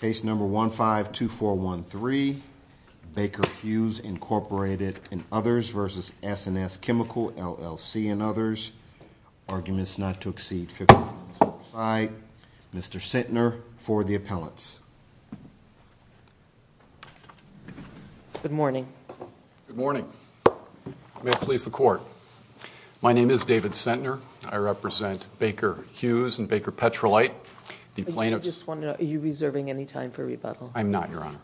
Case number 152413 Baker Hughes Incorporated and others versus S&S Chemical LLC and others. Arguments not to exceed 50%. Mr. Centner for the appellants. Good morning. Good morning. May it please the court. My name is David Centner. I represent Baker Hughes and Baker Petrolite. Are you reserving any time for rebuttal? I'm not, Your Honor.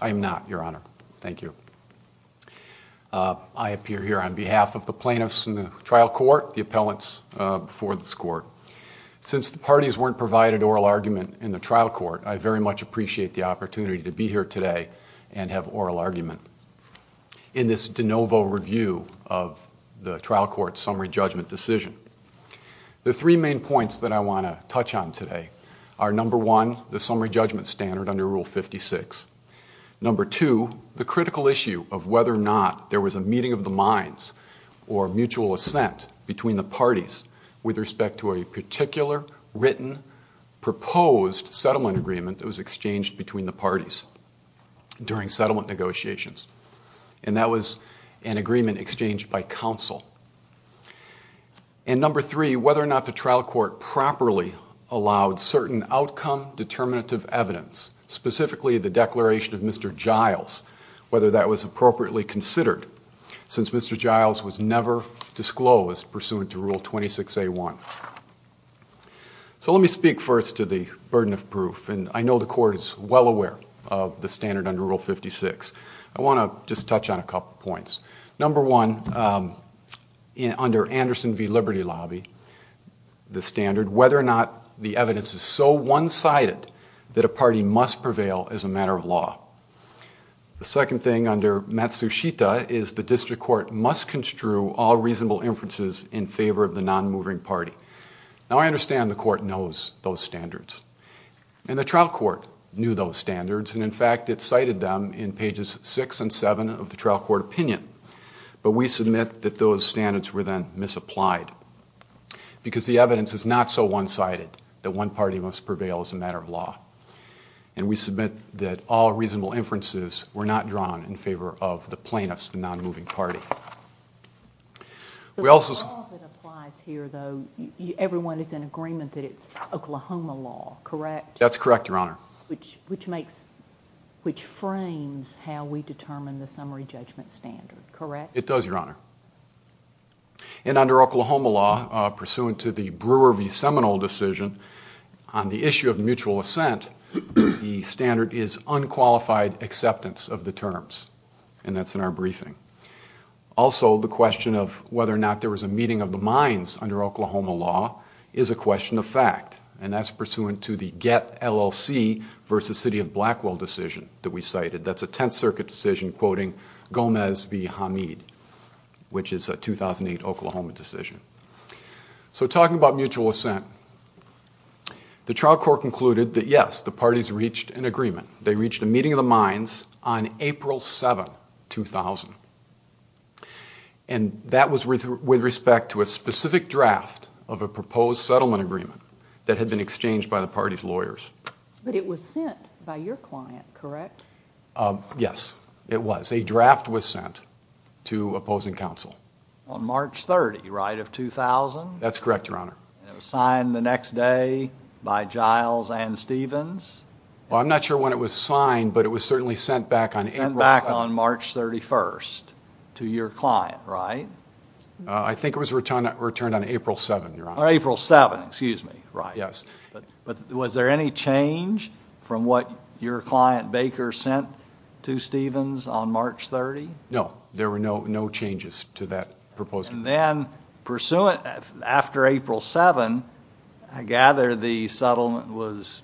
I'm not, Your Honor. Thank you. I appear here on behalf of the plaintiffs in the trial court, the appellants before this court. Since the parties weren't provided oral argument in the trial court, I very much appreciate the opportunity to be here today and have oral argument. In this trial court summary judgment decision. The three main points that I want to touch on today are number one, the summary judgment standard under Rule 56. Number two, the critical issue of whether or not there was a meeting of the minds or mutual assent between the parties with respect to a particular written proposed settlement agreement that was exchanged between the parties during settlement negotiations. And that was an agreement exchanged by counsel. And number three, whether or not the trial court properly allowed certain outcome determinative evidence, specifically the declaration of Mr. Giles, whether that was appropriately considered since Mr. Giles was never disclosed pursuant to Rule 26a1. So let me speak first to the burden of proof and I know the court is well aware of the standard under Rule 56. I want to just touch on a couple points. Number one, under Anderson v. Liberty Lobby, the standard whether or not the evidence is so one-sided that a party must prevail as a matter of law. The second thing under Matsushita is the district court must construe all reasonable inferences in favor of the non-moving party. Now I understand the court knows those standards and in fact it cited them in pages 6 and 7 of the trial court opinion. But we submit that those standards were then misapplied because the evidence is not so one-sided that one party must prevail as a matter of law. And we submit that all reasonable inferences were not drawn in favor of the plaintiffs, the non-moving party. We also... The law that applies here though, everyone is in agreement that it's Oklahoma law, correct? That's correct, Your Honor. Which frames how we determine the summary judgment standard, correct? It does, Your Honor. And under Oklahoma law pursuant to the Brewer v. Seminole decision on the issue of mutual assent, the standard is unqualified acceptance of the terms and that's in our briefing. Also the question of whether or not there was a meeting of the minds under Oklahoma law is a LLC v. City of Blackwell decision that we cited. That's a Tenth Circuit decision quoting Gomez v. Hamid, which is a 2008 Oklahoma decision. So talking about mutual assent, the trial court concluded that yes, the parties reached an agreement. They reached a meeting of the minds on April 7, 2000. And that was with respect to a specific draft of a proposed settlement agreement that had been exchanged by the party's lawyers. But it was sent by your client, correct? Yes, it was. A draft was sent to opposing counsel. On March 30, right, of 2000? That's correct, Your Honor. And it was signed the next day by Giles and Stevens? Well, I'm not sure when it was signed, but it was certainly sent back on April 7. Sent back on March 31st to your client, right? I think it was returned on April 7, Your Honor. On April 7, excuse me, right. Yes. But was there any change from what your client Baker sent to Stevens on March 30? No, there were no changes to that proposal. And then, pursuant, after April 7, I gather the settlement was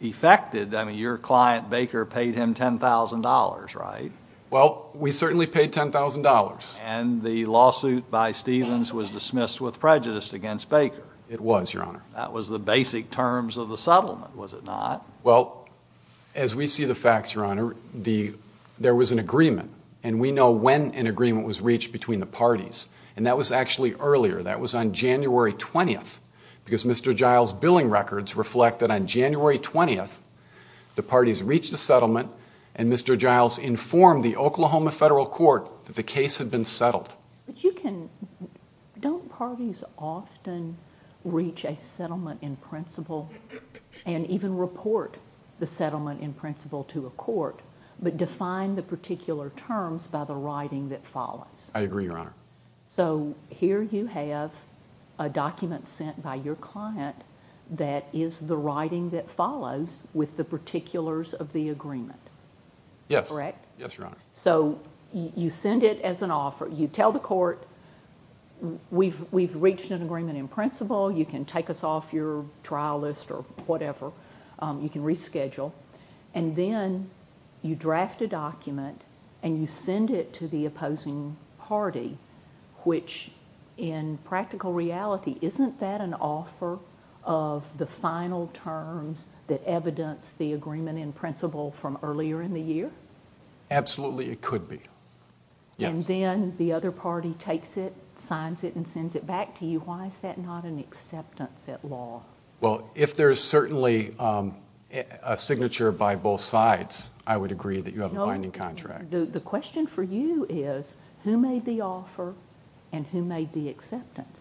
effected. I mean, your client Baker paid him $10,000, right? Well, we certainly paid $10,000. And the lawsuit by Stevens was dismissed with prejudice against Baker? It was, Your Honor. That was the basic terms of the settlement, was it not? Well, as we see the facts, Your Honor, there was an agreement. And we know when an agreement was reached between the parties. And that was actually earlier. That was on January 20th. Because Mr. Giles' billing records reflect that on January 20th, the parties reached a settlement, and Mr. Giles informed the Oklahoma Federal Court that the case had been settled. But you can, don't parties often reach a settlement in principle and even report the settlement in principle to a court, but define the particular terms by the writing that follows? I agree, Your Honor. So, here you have a document sent by your client that is the writing that follows with the particulars of the agreement. Yes, Your Honor. So, you send it as an offer. You tell the court, we've reached an agreement in principle. You can take us off your trial list or whatever. You can reschedule. And then you draft a document and you send it to the opposing party, which in practical reality, isn't that an offer of the final terms that evidence the agreement in principle from earlier in the year? Absolutely, it could be. Yes. And then the other party takes it, signs it, and sends it back to you. Why is that not an acceptance at law? Well, if there's certainly a signature by both sides, I would agree that you have a binding contract. The question for you is, who made the offer and who made the acceptance?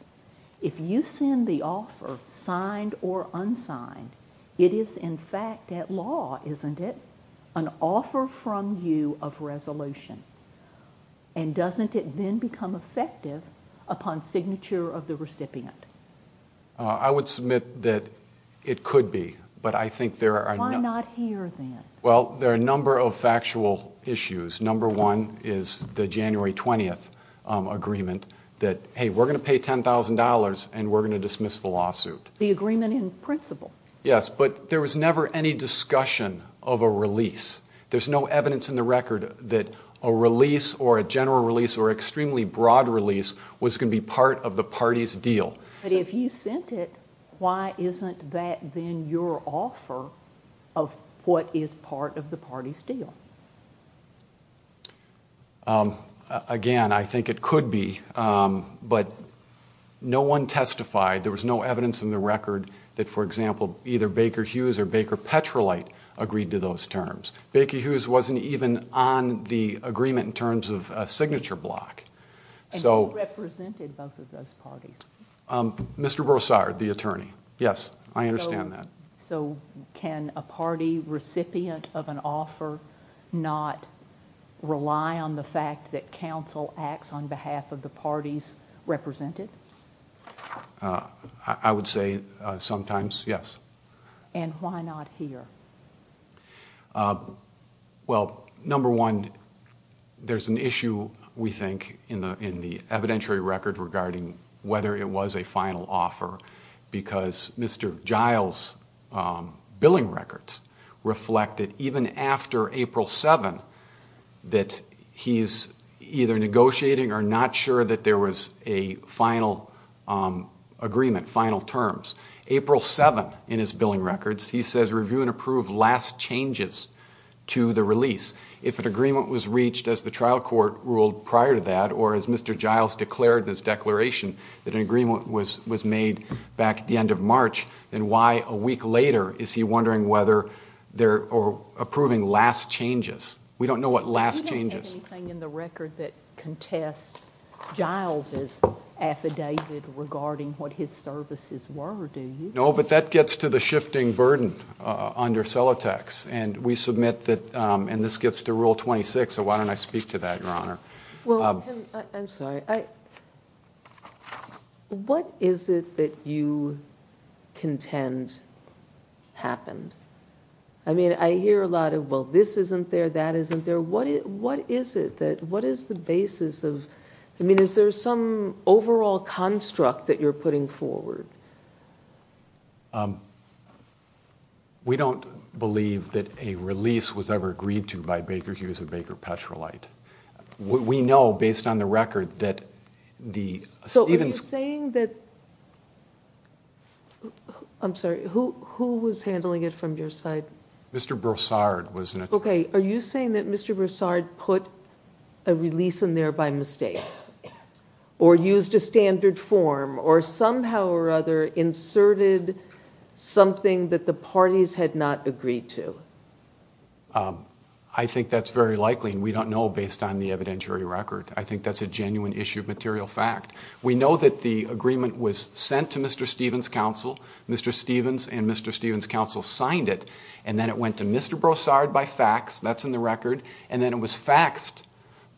If you send the offer, signed or unsigned, it is in fact at law, isn't it? An offer from you of resolution. And doesn't it then become effective upon signature of the recipient? I would submit that it could be, but I think there are... Why not here then? Well, there are a number of factual issues. Number one is the January 20th agreement that, hey, we're going to pay $10,000 and we're going to dismiss the lawsuit. The agreement in principle. Yes, but there was never any discussion of a release. There's no evidence in the record that a release or a general release or extremely broad release was going to be part of the party's deal. But if you sent it, why isn't that then your offer of what is part of the party's deal? Again, I think it could be, but no one testified. There was no evidence in the record that, for example, either Baker Hughes or Baker Petrolite agreed to those terms. Baker Hughes wasn't even on the agreement in terms of a signature block. And who represented both of those parties? Mr. Brossard, the attorney. Yes, I understand that. So can a party recipient of an offer not rely on the fact that counsel acts on behalf of the parties represented? I would say sometimes, yes. And why not here? Well, number one, there's an issue, we think, in the evidentiary record regarding whether it was a final offer. Because Mr. Giles' billing records reflect that even after April 7, that he's either negotiating or not sure that there was a final agreement, final terms. April 7, in his billing records, he says review and approve last changes to the release. If an agreement was reached, as the trial court ruled prior to that, or as Mr. Giles declared in his declaration, that an agreement was made back at the end of March, then why a week later is he wondering whether they're approving last changes? We don't know what last changes. Anything in the record that contests Giles' affidavit regarding what his services were, do you? No, but that gets to the shifting burden under Celotex. And we submit that, and this gets to Rule 26, so why don't I speak to that, Your Honor? Well, I'm sorry. What is it that you contend happened? I mean, I hear a lot of, well, this isn't there, that isn't there. What is it that, what is the basis of, I mean, is there some overall construct that you're putting forward? We don't believe that a release was ever agreed to by Baker Hughes or Baker Petrolite. We know, based on the record, that the— So are you saying that, I'm sorry, who was handling it from your side? Mr. Broussard was— Okay, are you saying that Mr. Broussard put a release in there by mistake, or used a standard form, or somehow or other inserted something that the parties had not agreed to? I think that's very likely, and we don't know based on the evidentiary record. I think that's a genuine issue of material fact. We know that the agreement was sent to Mr. Stevens' counsel. Mr. Stevens and Mr. Stevens' counsel signed it, and then it went to Mr. Broussard by fax, that's in the record, and then it was faxed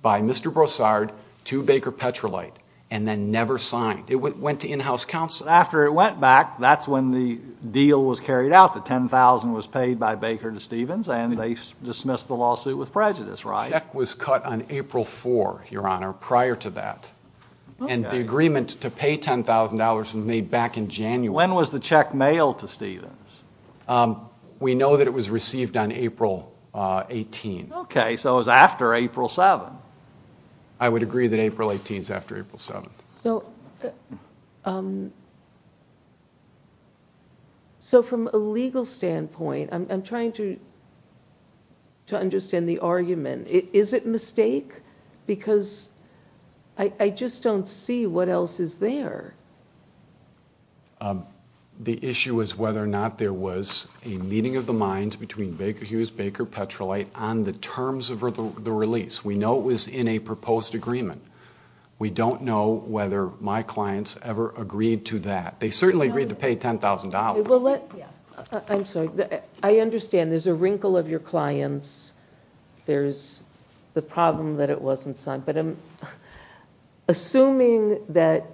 by Mr. Broussard to Baker Petrolite, and then never signed. It went to in-house counsel. After it went back, that's when the deal was carried out, the $10,000 was paid by Baker to Stevens, and they dismissed the lawsuit with prejudice, right? The check was cut on April 4, Your Honor, prior to that. And the agreement to pay $10,000 was made back in January. When was the check mailed to Stevens? We know that it was received on April 18. Okay, so it was after April 7. I would agree that April 18 is after April 7. So from a legal standpoint, I'm trying to understand the argument. Is it a mistake? Because I just don't see what else is there. The issue is whether or not there was a meeting of the minds between Baker Hughes, Baker Petrolite, on the terms of the release. We know it was in a proposed agreement. We don't know whether my clients ever agreed to that. They certainly agreed to pay $10,000. I'm sorry. I understand there's a wrinkle of your clients. There's the problem that it wasn't signed. But assuming that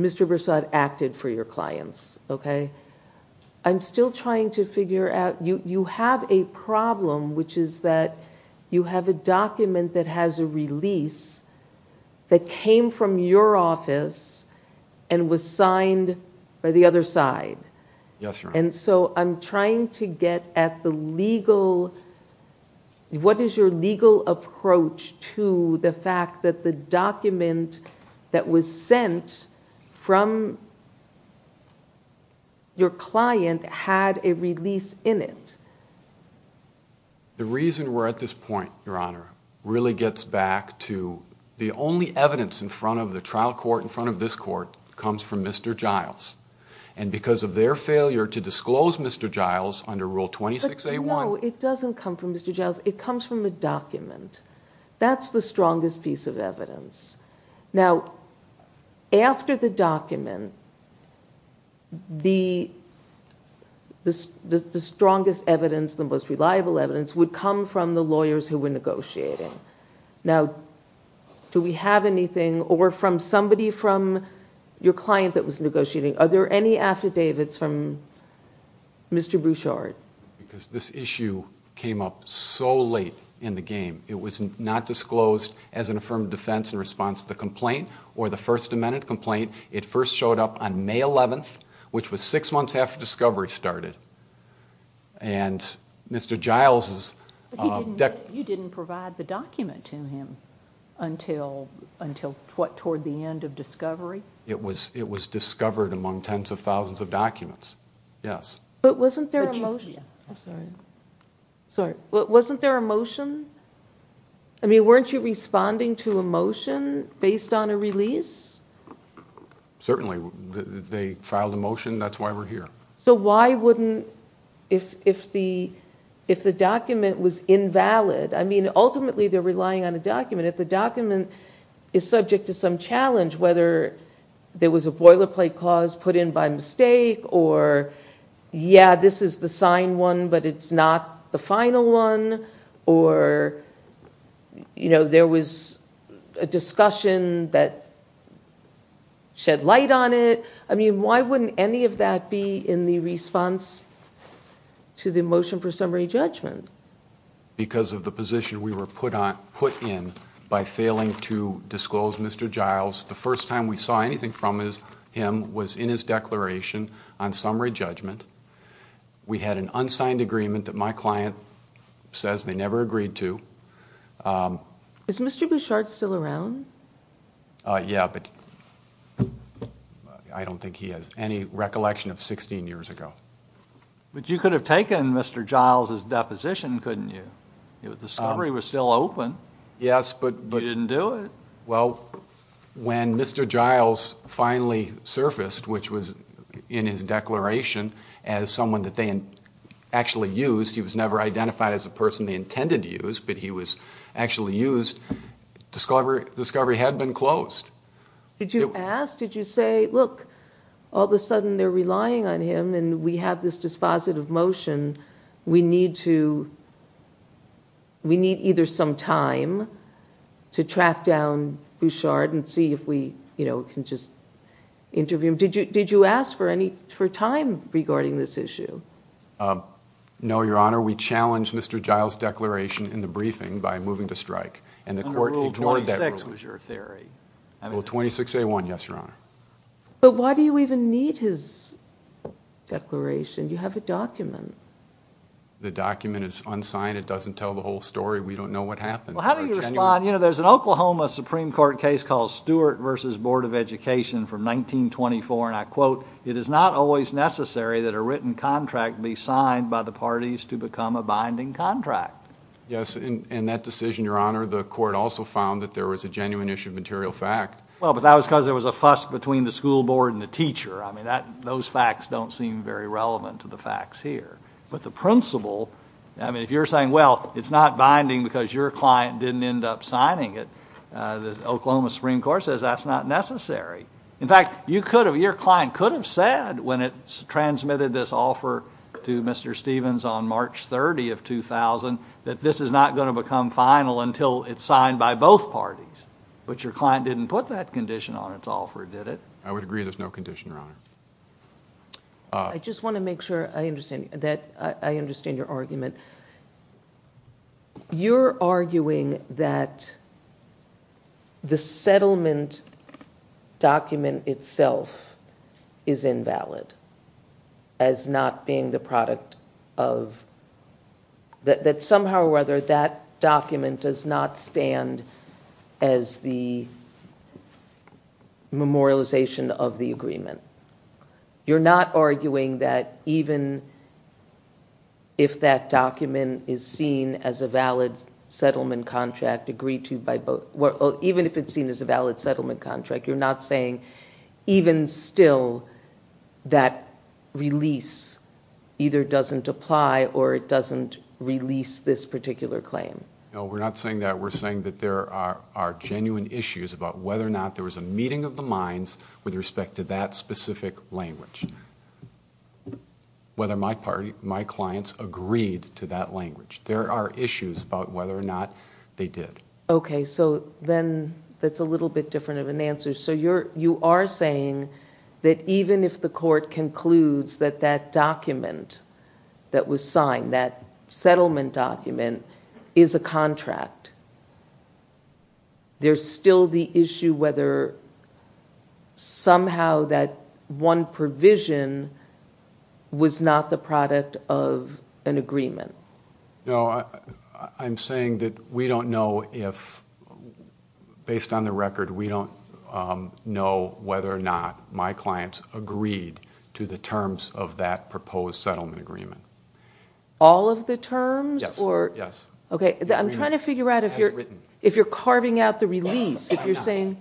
Mr. Bersod acted for your clients, okay, I'm still trying to figure out you have a problem, which is that you have a document that has a release that came from your office and was signed by the other side. Yes, Your Honor. And so I'm trying to get at the legal, what is your legal approach to the fact that the document that was sent from your client had a release in it? The reason we're at this point, Your Honor, really gets back to the only evidence in front of the trial court, in front of this court, comes from Mr. Giles. And because of their failure to disclose Mr. Giles under Rule 26A1... But no, it doesn't come from Mr. Giles. It comes from a document. That's the strongest piece of evidence. Now, after the document, the strongest evidence, the most reliable evidence would come from the lawyers who were negotiating. Now, do we have anything from somebody from your client that was negotiating? Are there any affidavits from Mr. Bersod? Because this issue came up so late in the game. It was not disclosed as an affirmative defense in response to the complaint or the First Amendment complaint. It first showed up on May 11th, which was six months after discovery started. And Mr. Giles... But you didn't provide the document to him until what, toward the end of discovery? It was discovered among tens of thousands of documents, yes. But wasn't there a motion? I'm sorry. Wasn't there a motion? I mean, weren't you responding to a motion based on a release? Certainly. They filed a motion. That's why we're here. So why wouldn't... If the document was invalid... I mean, ultimately, they're relying on a document. If the document is subject to some challenge, whether there was a boilerplate clause put in by mistake, or, yeah, this is the signed one, but it's not the final one, or there was a discussion that shed light on it, I mean, why wouldn't any of that be in the response to the motion for summary judgment? Because of the position we were put in by failing to disclose Mr. Giles. The first time we saw anything from him was in his declaration on summary judgment. We had an unsigned agreement that my client says they never agreed to. Is Mr. Bouchard still around? Yeah, but I don't think he has any recollection of 16 years ago. But you could have taken Mr. Giles' deposition, couldn't you? Discovery was still open. Yes, but... You didn't do it. Well, when Mr. Giles finally surfaced, which was in his declaration, as someone that they actually used, he was never identified as a person they intended to use, but he was actually used, Discovery had been closed. Did you ask? Did you say, look, all of a sudden they're relying on him and we have this dispositive motion. We need either some time to track down Bouchard and see if we can just interview him. Did you ask for time regarding this issue? No, Your Honor. We challenged Mr. Giles' declaration in the briefing by moving to strike, and the court ignored that rule. Under Rule 26 was your theory. Rule 26A1, yes, Your Honor. But why do you even need his declaration? You have a document. The document is unsigned. It doesn't tell the whole story. We don't know what happened. Well, how do you respond? There's an Oklahoma Supreme Court case called Stewart v. Board of Education from 1924, and I quote, it is not always necessary that a written contract be signed by the parties to become a binding contract. Yes, and that decision, Your Honor, the court also found that there was a genuine issue of material fact. Well, but that was because there was a fuss between the school board and the teacher. I mean, those facts don't seem very relevant to the facts here. But the principle, I mean, if you're saying, well, it's not binding because your client didn't end up signing it, the Oklahoma Supreme Court says that's not necessary. In fact, your client could have said when it transmitted this offer to Mr. Stevens on March 30 of 2000 that this is not going to become final until it's signed by both parties. But your client didn't put that condition on its offer, did it? I would agree there's no condition, Your Honor. I just want to make sure that I understand your argument. You're arguing that the settlement document itself is invalid as not being the product of, that somehow or other that document does not stand as the memorialization of the agreement. You're not arguing that even if that document is seen as a valid settlement contract, agreed to by both, even if it's seen as a valid settlement contract, you're not saying even still that release either doesn't apply or it doesn't release this particular claim? No, we're not saying that. We're saying that there are genuine issues about whether or not there was a meeting of the minds with respect to that specific language, whether my clients agreed to that language. There are issues about whether or not they did. Okay, so then that's a little bit different of an answer. So you are saying that even if the court concludes that that document that was signed, that settlement document, is a contract, there's still the issue whether somehow that one provision was not the product of an agreement? No, I'm saying that we don't know if, based on the record, we don't know whether or not my clients agreed to the terms of that proposed settlement agreement. All of the terms? Yes. Okay, I'm trying to figure out if you're carving out the release.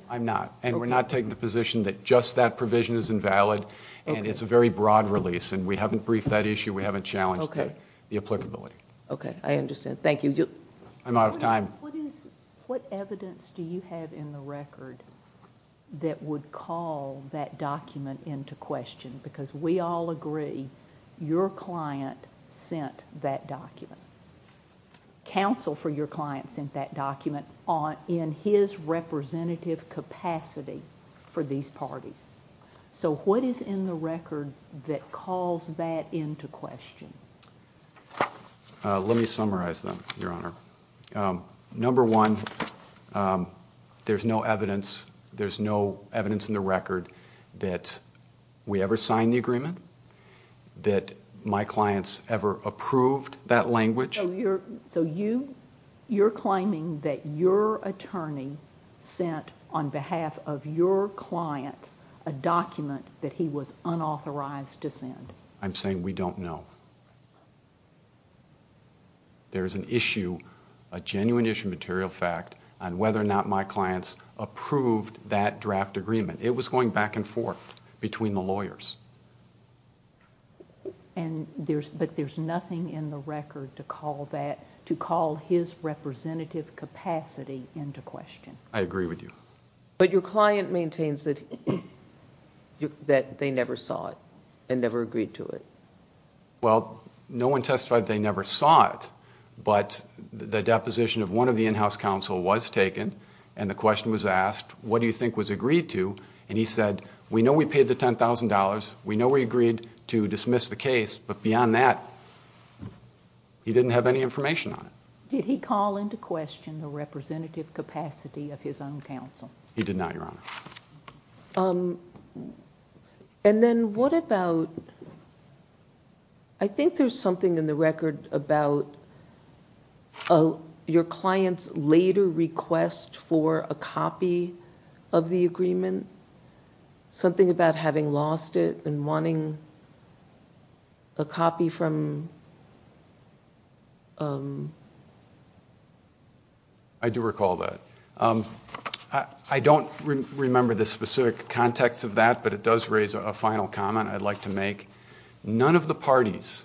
I'm not, and we're not taking the position that just that provision is invalid, and it's a very broad release, and we haven't briefed that issue. We haven't challenged the applicability. Okay, I understand. Thank you. I'm out of time. What evidence do you have in the record that would call that document into question? Because we all agree your client sent that document. Counsel for your client sent that document in his representative capacity for these parties. So what is in the record that calls that into question? Let me summarize them, Your Honor. Number one, there's no evidence in the record that we ever signed the agreement, that my clients ever approved that language. So you're claiming that your attorney sent, on behalf of your clients, a document that he was unauthorized to send? I'm saying we don't know. There's an issue, a genuine issue, material fact, on whether or not my clients approved that draft agreement. It was going back and forth between the lawyers. But there's nothing in the record to call his representative capacity into question? I agree with you. But your client maintains that they never saw it and never agreed to it. Well, no one testified they never saw it. But the deposition of one of the in-house counsel was taken, and the question was asked, what do you think was agreed to? And he said, we know we paid the $10,000. We know we agreed to dismiss the case. But beyond that, he didn't have any information on it. Did he call into question the representative capacity of his own counsel? He did not, Your Honor. And then what about, I think there's something in the record about your client's later request for a copy of the agreement, something about having lost it and wanting a copy from? I do recall that. I don't remember the specific context of that, but it does raise a final comment I'd like to make. None of the parties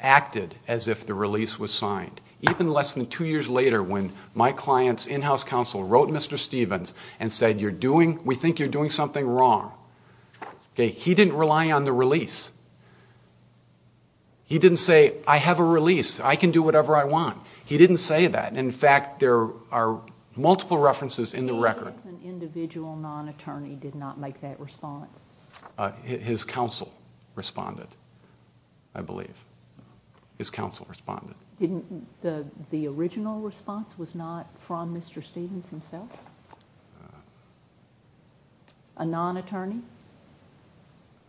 acted as if the release was signed. Even less than two years later, when my client's in-house counsel wrote Mr. Stevens and said, we think you're doing something wrong. He didn't rely on the release. He didn't say, I have a release. I can do whatever I want. He didn't say that. In fact, there are multiple references in the record. So it was an individual non-attorney did not make that response? His counsel responded, I believe. His counsel responded. The original response was not from Mr. Stevens himself? A non-attorney?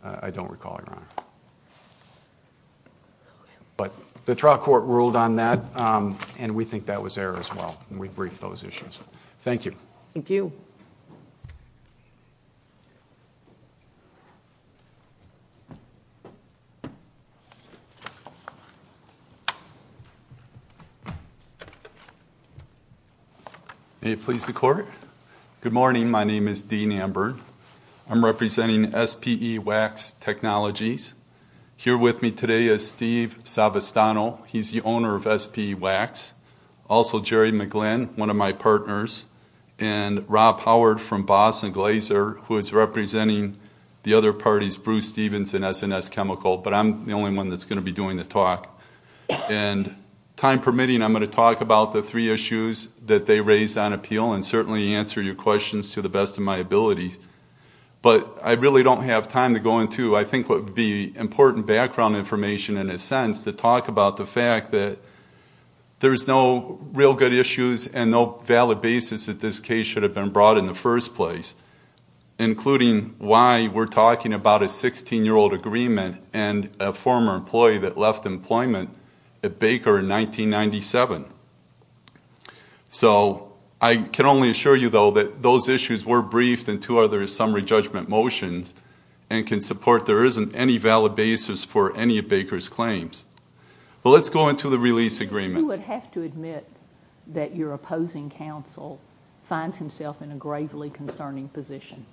I don't recall, Your Honor. The trial court ruled on that, and we think that was error as well. We briefed those issues. Thank you. Thank you. May it please the Court. Good morning. My name is Dean Amber. I'm representing SPE Wax Technologies. Here with me today is Steve Savastano. He's the owner of SPE Wax. Also Jerry McGlynn, one of my partners, and Rob Howard from Boss and Glazer, who is representing the other parties, Bruce Stevens and S&S Chemical. But I'm the only one that's going to be doing the talk. And time permitting, I'm going to talk about the three issues that they raised on appeal and certainly answer your questions to the best of my ability. But I really don't have time to go into, I think, what would be important background information, in a sense, to talk about the fact that there's no real good issues and no valid basis that this case should have been brought in the first place, including why we're talking about a 16-year-old agreement and a former employee that left employment at Baker in 1997. So I can only assure you, though, that those issues were briefed in two other summary judgment motions and can support there isn't any valid basis for any of Baker's claims. But let's go into the release agreement. You would have to admit that your opposing counsel finds himself in a gravely concerning position.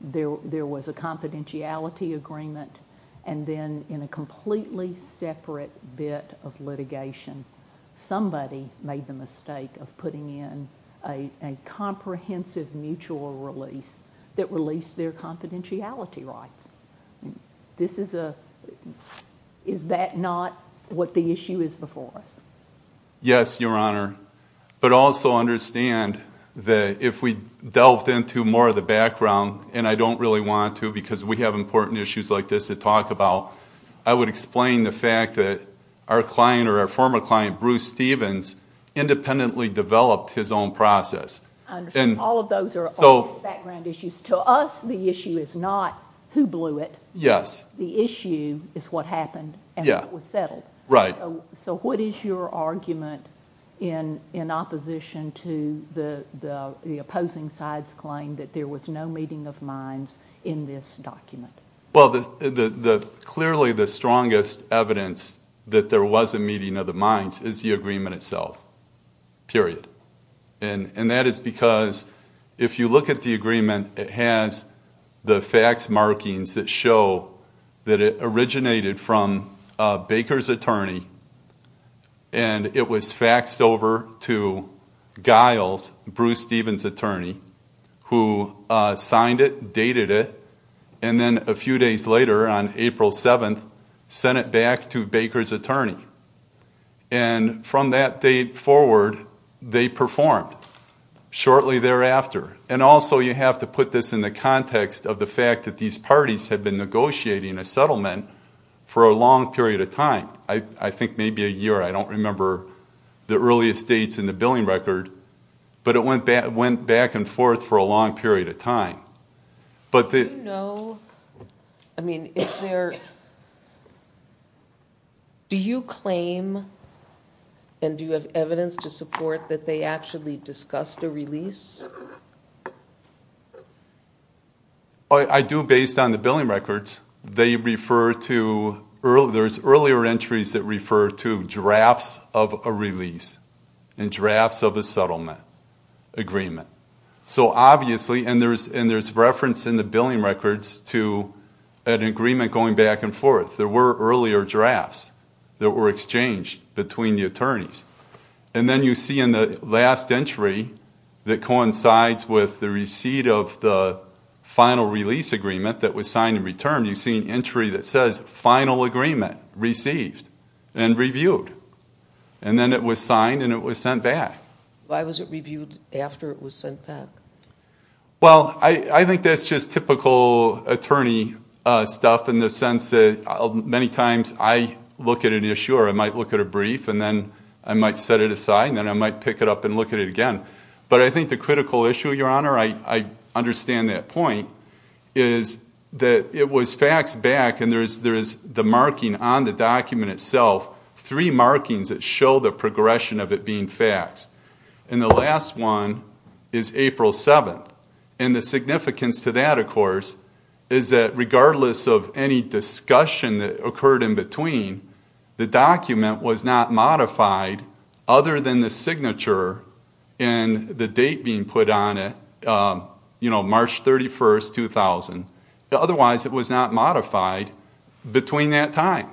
There was a confidentiality agreement and then in a completely separate bit of litigation, somebody made the mistake of putting in a comprehensive mutual release that released their confidentiality rights. This is a... Is that not what the issue is before us? Yes, Your Honour. But also understand that if we delved into more of the background, and I don't really want to because we have important issues like this to talk about, I would explain the fact that our client or our former client, Bruce Stevens, independently developed his own process. I understand. All of those are obvious background issues. To us, the issue is not who blew it. Yes. The issue is what happened and what was settled. Right. So what is your argument in opposition to the opposing side's claim that there was no meeting of minds in this document? Well, clearly the strongest evidence that there was a meeting of the minds is the agreement itself, period. And that is because if you look at the agreement, it has the fax markings that show that it originated from Baker's attorney, and it was faxed over to Guile's, Bruce Stevens' attorney, who signed it, dated it, and then a few days later, on April 7th, sent it back to Baker's attorney. And from that date forward, they performed. Shortly thereafter. And also you have to put this in the context of the fact that these parties had been negotiating a settlement for a long period of time. I think maybe a year. I don't remember the earliest dates in the billing record. But it went back and forth for a long period of time. Do you know, I mean, do you claim and do you have evidence to support that they actually discussed a release? I do, based on the billing records. There's earlier entries that refer to drafts of a release and drafts of a settlement agreement. So obviously, and there's reference in the billing records to an agreement going back and forth. There were earlier drafts. There were exchanged between the attorneys. And then you see in the last entry, that coincides with the receipt of the final release agreement that was signed in return, you see an entry that says final agreement received and reviewed. And then it was signed and it was sent back. Why was it reviewed after it was sent back? Well, I think that's just typical attorney stuff in the sense that many times I look at an issue or I might look at a brief and then I might set it aside and then I might pick it up and look at it again. But I think the critical issue, Your Honor, I understand that point, is that it was faxed back and there is the marking on the document itself, three markings that show the progression of it being faxed. And the last one is April 7th. And the significance to that, of course, is that regardless of any discussion that occurred in between, the document was not modified other than the signature and the date being put on it, you know, March 31st, 2000. Otherwise, it was not modified between that time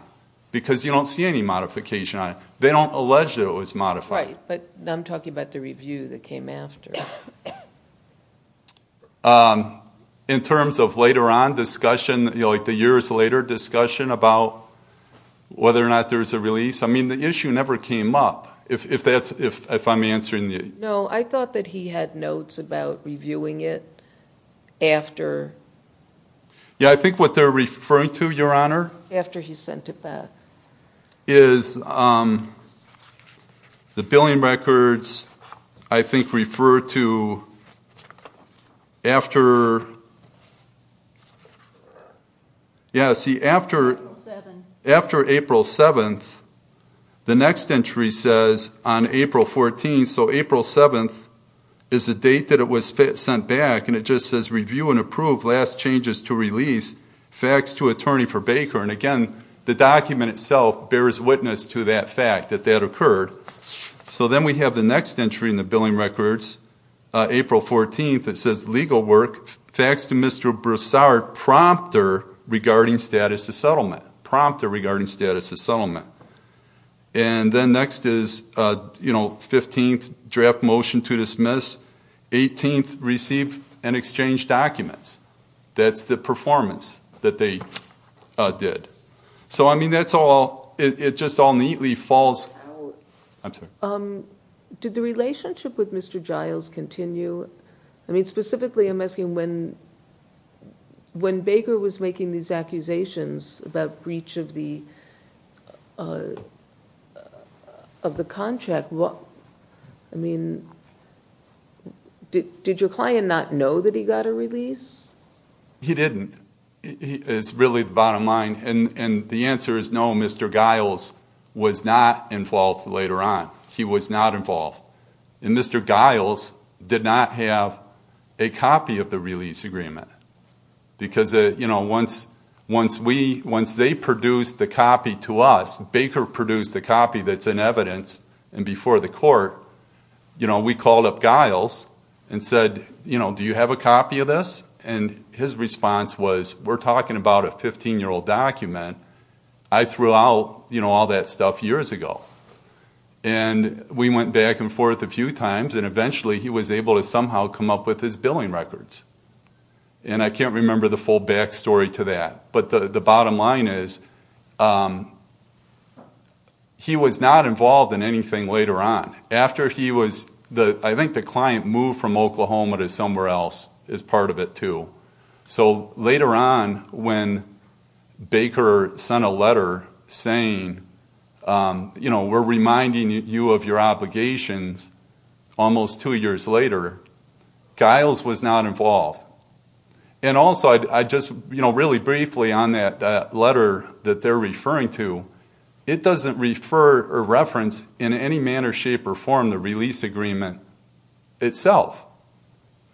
because you don't see any modification on it. They don't allege that it was modified. Right. But I'm talking about the review that came after. In terms of later on discussion, like the years later discussion about whether or not there was a release, I mean, the issue never came up, if I'm answering you. No, I thought that he had notes about reviewing it after. Yeah, I think what they're referring to, Your Honor. After he sent it back. Is the billing records, I think, refer to after. Yeah, see, after April 7th, the next entry says on April 14th. So April 7th is the date that it was sent back. And it just says, Review and approve last changes to release. Fax to attorney for Baker. And, again, the document itself bears witness to that fact, that that occurred. So then we have the next entry in the billing records, April 14th. It says, Legal work. Fax to Mr. Broussard, prompter regarding status of settlement. Prompter regarding status of settlement. And then next is, you know, 15th, draft motion to dismiss. 18th, receive and exchange documents. That's the performance that they did. So, I mean, that's all, it just all neatly falls. I'm sorry. Did the relationship with Mr. Giles continue? I mean, specifically, I'm asking when Baker was making these accusations about breach of the contract, I mean, did your client not know that he got a release? He didn't. It's really the bottom line. And the answer is no, Mr. Giles was not involved later on. He was not involved. And Mr. Giles did not have a copy of the release agreement. Because, you know, once they produced the copy to us, once Baker produced the copy that's in evidence and before the court, you know, we called up Giles and said, you know, do you have a copy of this? And his response was, we're talking about a 15-year-old document. I threw out, you know, all that stuff years ago. And we went back and forth a few times, and eventually he was able to somehow come up with his billing records. And I can't remember the full back story to that. But the bottom line is, he was not involved in anything later on. After he was, I think the client moved from Oklahoma to somewhere else as part of it, too. So later on, when Baker sent a letter saying, you know, we're reminding you of your obligations, almost two years later, Giles was not involved. And also, I just, you know, really briefly on that letter that they're referring to, it doesn't refer or reference in any manner, shape, or form the release agreement itself.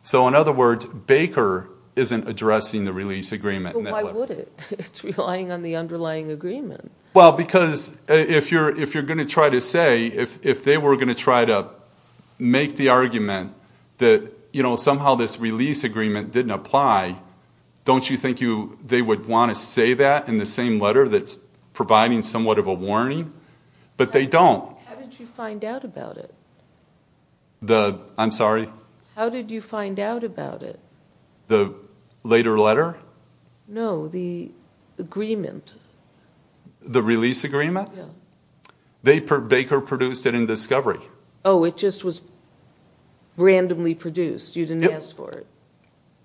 So in other words, Baker isn't addressing the release agreement. But why would it? It's relying on the underlying agreement. Well, because if you're going to try to say, if they were going to try to make the argument that, you know, somehow this release agreement didn't apply, don't you think they would want to say that in the same letter that's providing somewhat of a warning? But they don't. How did you find out about it? I'm sorry? How did you find out about it? The later letter? No, the agreement. The release agreement? Yeah. Baker produced it in Discovery. Oh, it just was randomly produced. You didn't ask for it.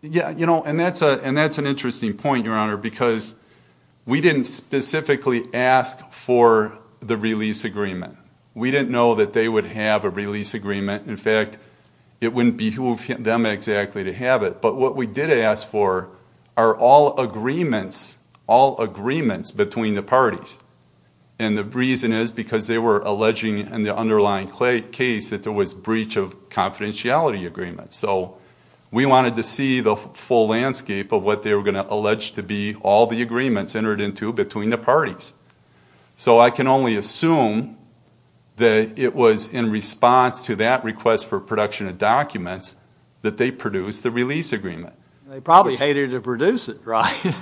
Yeah, you know, and that's an interesting point, Your Honor, because we didn't specifically ask for the release agreement. We didn't know that they would have a release agreement. In fact, it wouldn't behoove them exactly to have it. But what we did ask for are all agreements, all agreements between the parties. And the reason is because they were alleging in the underlying case that there was breach of confidentiality agreements. So we wanted to see the full landscape of what they were going to allege to be all the agreements entered into between the parties. So I can only assume that it was in response to that request for production of documents that they produced the release agreement. They probably hated to produce it, right?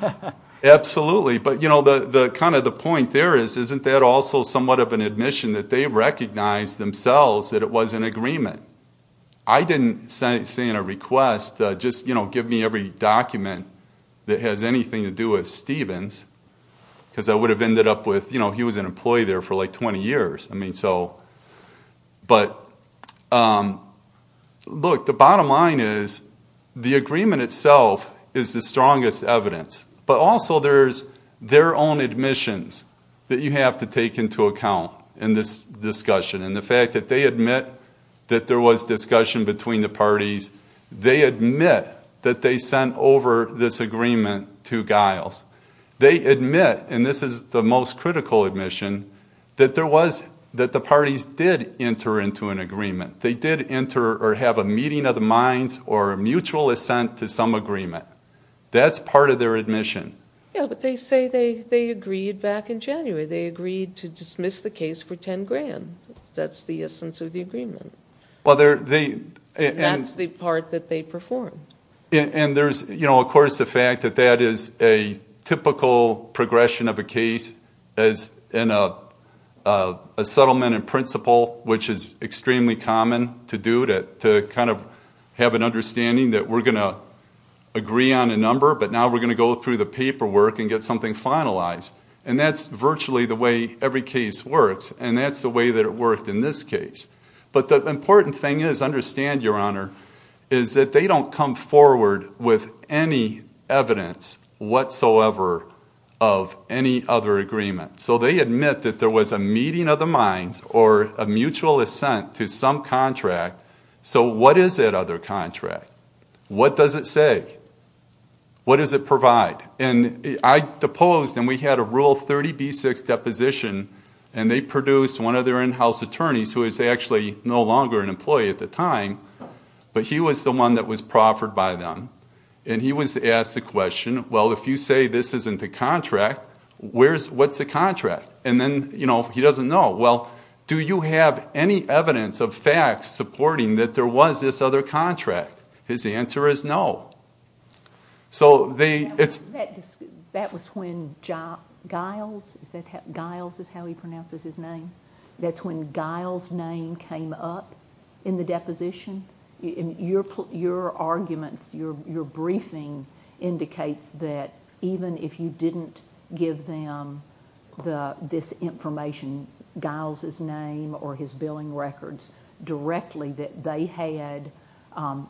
Absolutely. But, you know, kind of the point there is, isn't that also somewhat of an admission that they recognized themselves that it was an agreement? I didn't say in a request, just, you know, give me every document that has anything to do with Stevens, because I would have ended up with, you know, he was an employee there for like 20 years. I mean, so, but, look, the bottom line is the agreement itself is the strongest evidence. But also there's their own admissions that you have to take into account in this discussion. And the fact that they admit that there was discussion between the parties, they admit that they sent over this agreement to Giles. They admit, and this is the most critical admission, that there was, that the parties did enter into an agreement. They did enter or have a meeting of the minds or a mutual assent to some agreement. That's part of their admission. Yeah, but they say they agreed back in January. They agreed to dismiss the case for 10 grand. That's the essence of the agreement. That's the part that they performed. And there's, you know, of course the fact that that is a typical progression of a case as in a settlement in principle, which is extremely common to do, to kind of have an understanding that we're going to agree on a number, but now we're going to go through the paperwork and get something finalized. And that's virtually the way every case works. And that's the way that it worked in this case. But the important thing is, understand, Your Honor, is that they don't come forward with any evidence whatsoever of any other agreement. So they admit that there was a meeting of the minds or a mutual assent to some contract. So what is that other contract? What does it say? What does it provide? And I deposed, and we had a Rule 30b-6 deposition, and they produced one of their in-house attorneys, who was actually no longer an employee at the time, but he was the one that was proffered by them. And he was asked the question, well, if you say this isn't the contract, what's the contract? And then, you know, he doesn't know. Well, do you have any evidence of facts supporting that there was this other contract? His answer is no. So they – That was when Giles, is that how – Giles is how he pronounces his name? That's when Giles' name came up in the deposition? Your arguments, your briefing indicates that even if you didn't give them this information, Giles' name or his billing records, directly, that they had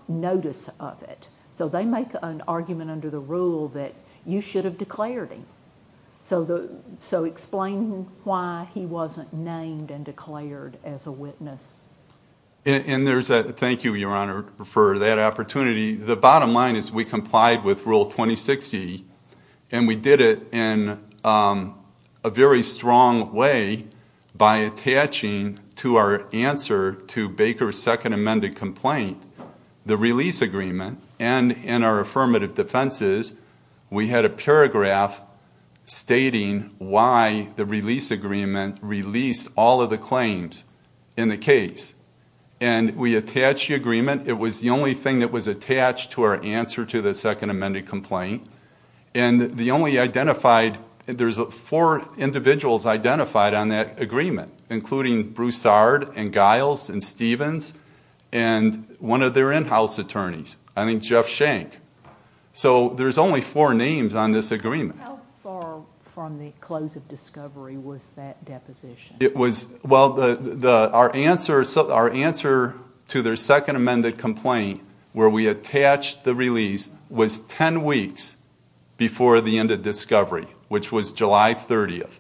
notice of it. So they make an argument under the rule that you should have declared him. So explain why he wasn't named and declared as a witness. And there's a – thank you, Your Honor, for that opportunity. The bottom line is we complied with Rule 2060, and we did it in a very strong way by attaching to our answer to Baker's second amended complaint, the release agreement, and in our affirmative defenses, we had a paragraph stating why the release agreement released all of the claims in the case. And we attached the agreement. It was the only thing that was attached to our answer to the second amended complaint. And the only identified – there's four individuals identified on that agreement, including Broussard and Giles and Stevens and one of their in-house attorneys, I think Jeff Schenck. So there's only four names on this agreement. How far from the close of discovery was that deposition? It was – well, our answer to their second amended complaint, where we attached the release, was 10 weeks before the end of discovery, which was July 30th.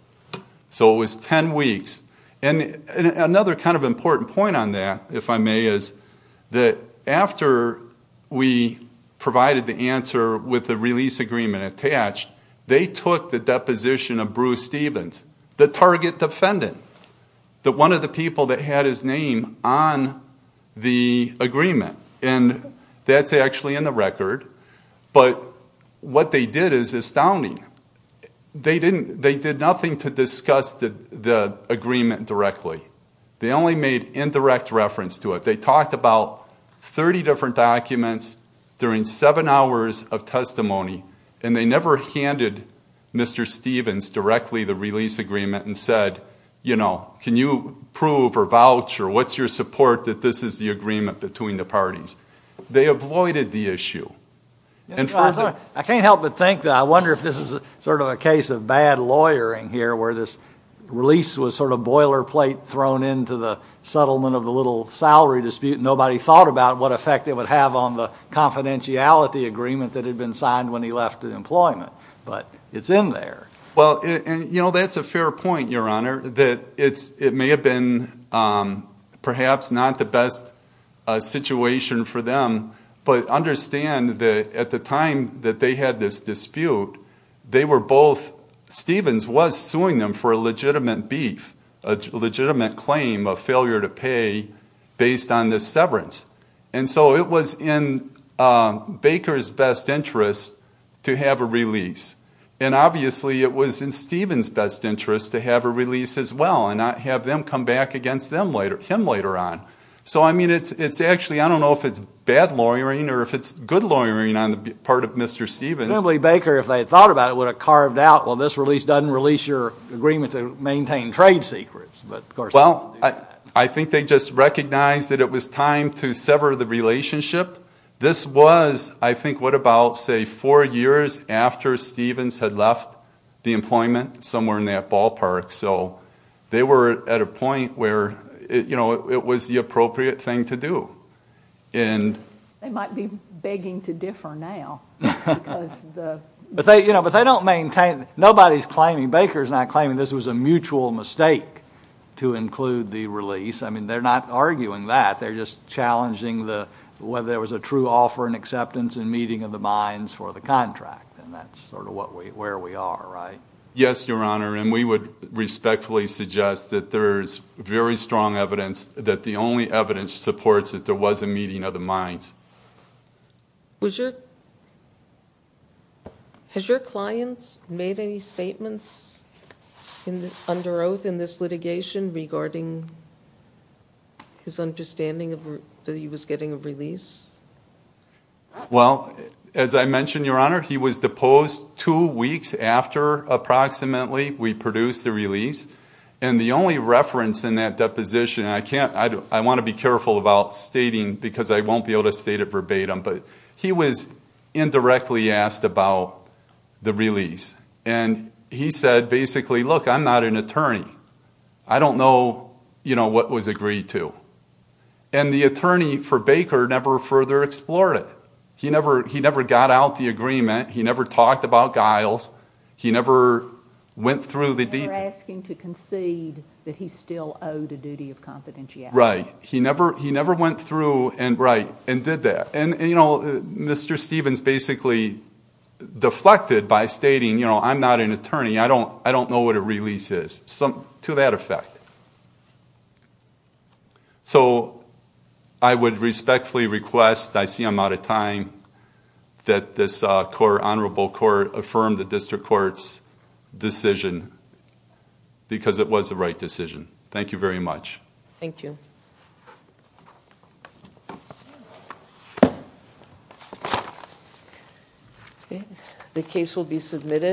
So it was 10 weeks. And another kind of important point on that, if I may, is that after we provided the answer with the release agreement attached, they took the deposition of Bruce Stevens, the target defendant, one of the people that had his name on the agreement. And that's actually in the record. But what they did is astounding. They did nothing to discuss the agreement directly. They only made indirect reference to it. They talked about 30 different documents during seven hours of testimony, and they never handed Mr. Stevens directly the release agreement and said, you know, can you prove or vouch or what's your support that this is the agreement between the parties? They avoided the issue. I can't help but think that I wonder if this is sort of a case of bad lawyering here, where this release was sort of boilerplate thrown into the settlement of the little salary dispute and nobody thought about what effect it would have on the confidentiality agreement that had been signed when he left employment. But it's in there. Well, you know, that's a fair point, Your Honor, that it may have been perhaps not the best situation for them, but understand that at the time that they had this dispute, they were both, Stevens was suing them for a legitimate beef, a legitimate claim of failure to pay based on this severance. And so it was in Baker's best interest to have a release. And obviously it was in Stevens' best interest to have a release as well and not have them come back against him later on. So, I mean, it's actually, I don't know if it's bad lawyering or if it's good lawyering on the part of Mr. Stevens. Assembly Baker, if they had thought about it, would have carved out, well, this release doesn't release your agreement to maintain trade secrets. Well, I think they just recognized that it was time to sever the relationship. This was, I think, what about, say, four years after Stevens had left the employment, somewhere in that ballpark. So they were at a point where it was the appropriate thing to do. They might be begging to differ now. But they don't maintain, nobody's claiming, Baker's not claiming this was a mutual mistake to include the release. I mean, they're not arguing that. They're just challenging whether there was a true offer and acceptance and meeting of the minds for the contract. And that's sort of where we are, right? Yes, Your Honor, and we would respectfully suggest that there is very strong evidence that the only evidence supports that there was a meeting of the minds. Has your client made any statements under oath in this litigation regarding his understanding that he was getting a release? Well, as I mentioned, Your Honor, he was deposed two weeks after, approximately, we produced the release. And the only reference in that deposition, and I want to be careful about stating because I won't be able to state it verbatim, but he was indirectly asked about the release. And he said, basically, look, I'm not an attorney. I don't know what was agreed to. And the attorney for Baker never further explored it. He never got out the agreement. He never talked about guiles. He never went through the details. He never asked him to concede that he still owed a duty of confidentiality. Right. He never went through and did that. And, you know, Mr. Stevens basically deflected by stating, you know, I'm not an attorney. I don't know what a release is, to that effect. So I would respectfully request, I see I'm out of time, that this honorable court affirm the district court's decision, because it was the right decision. Thank you very much. Thank you. The case will be submitted.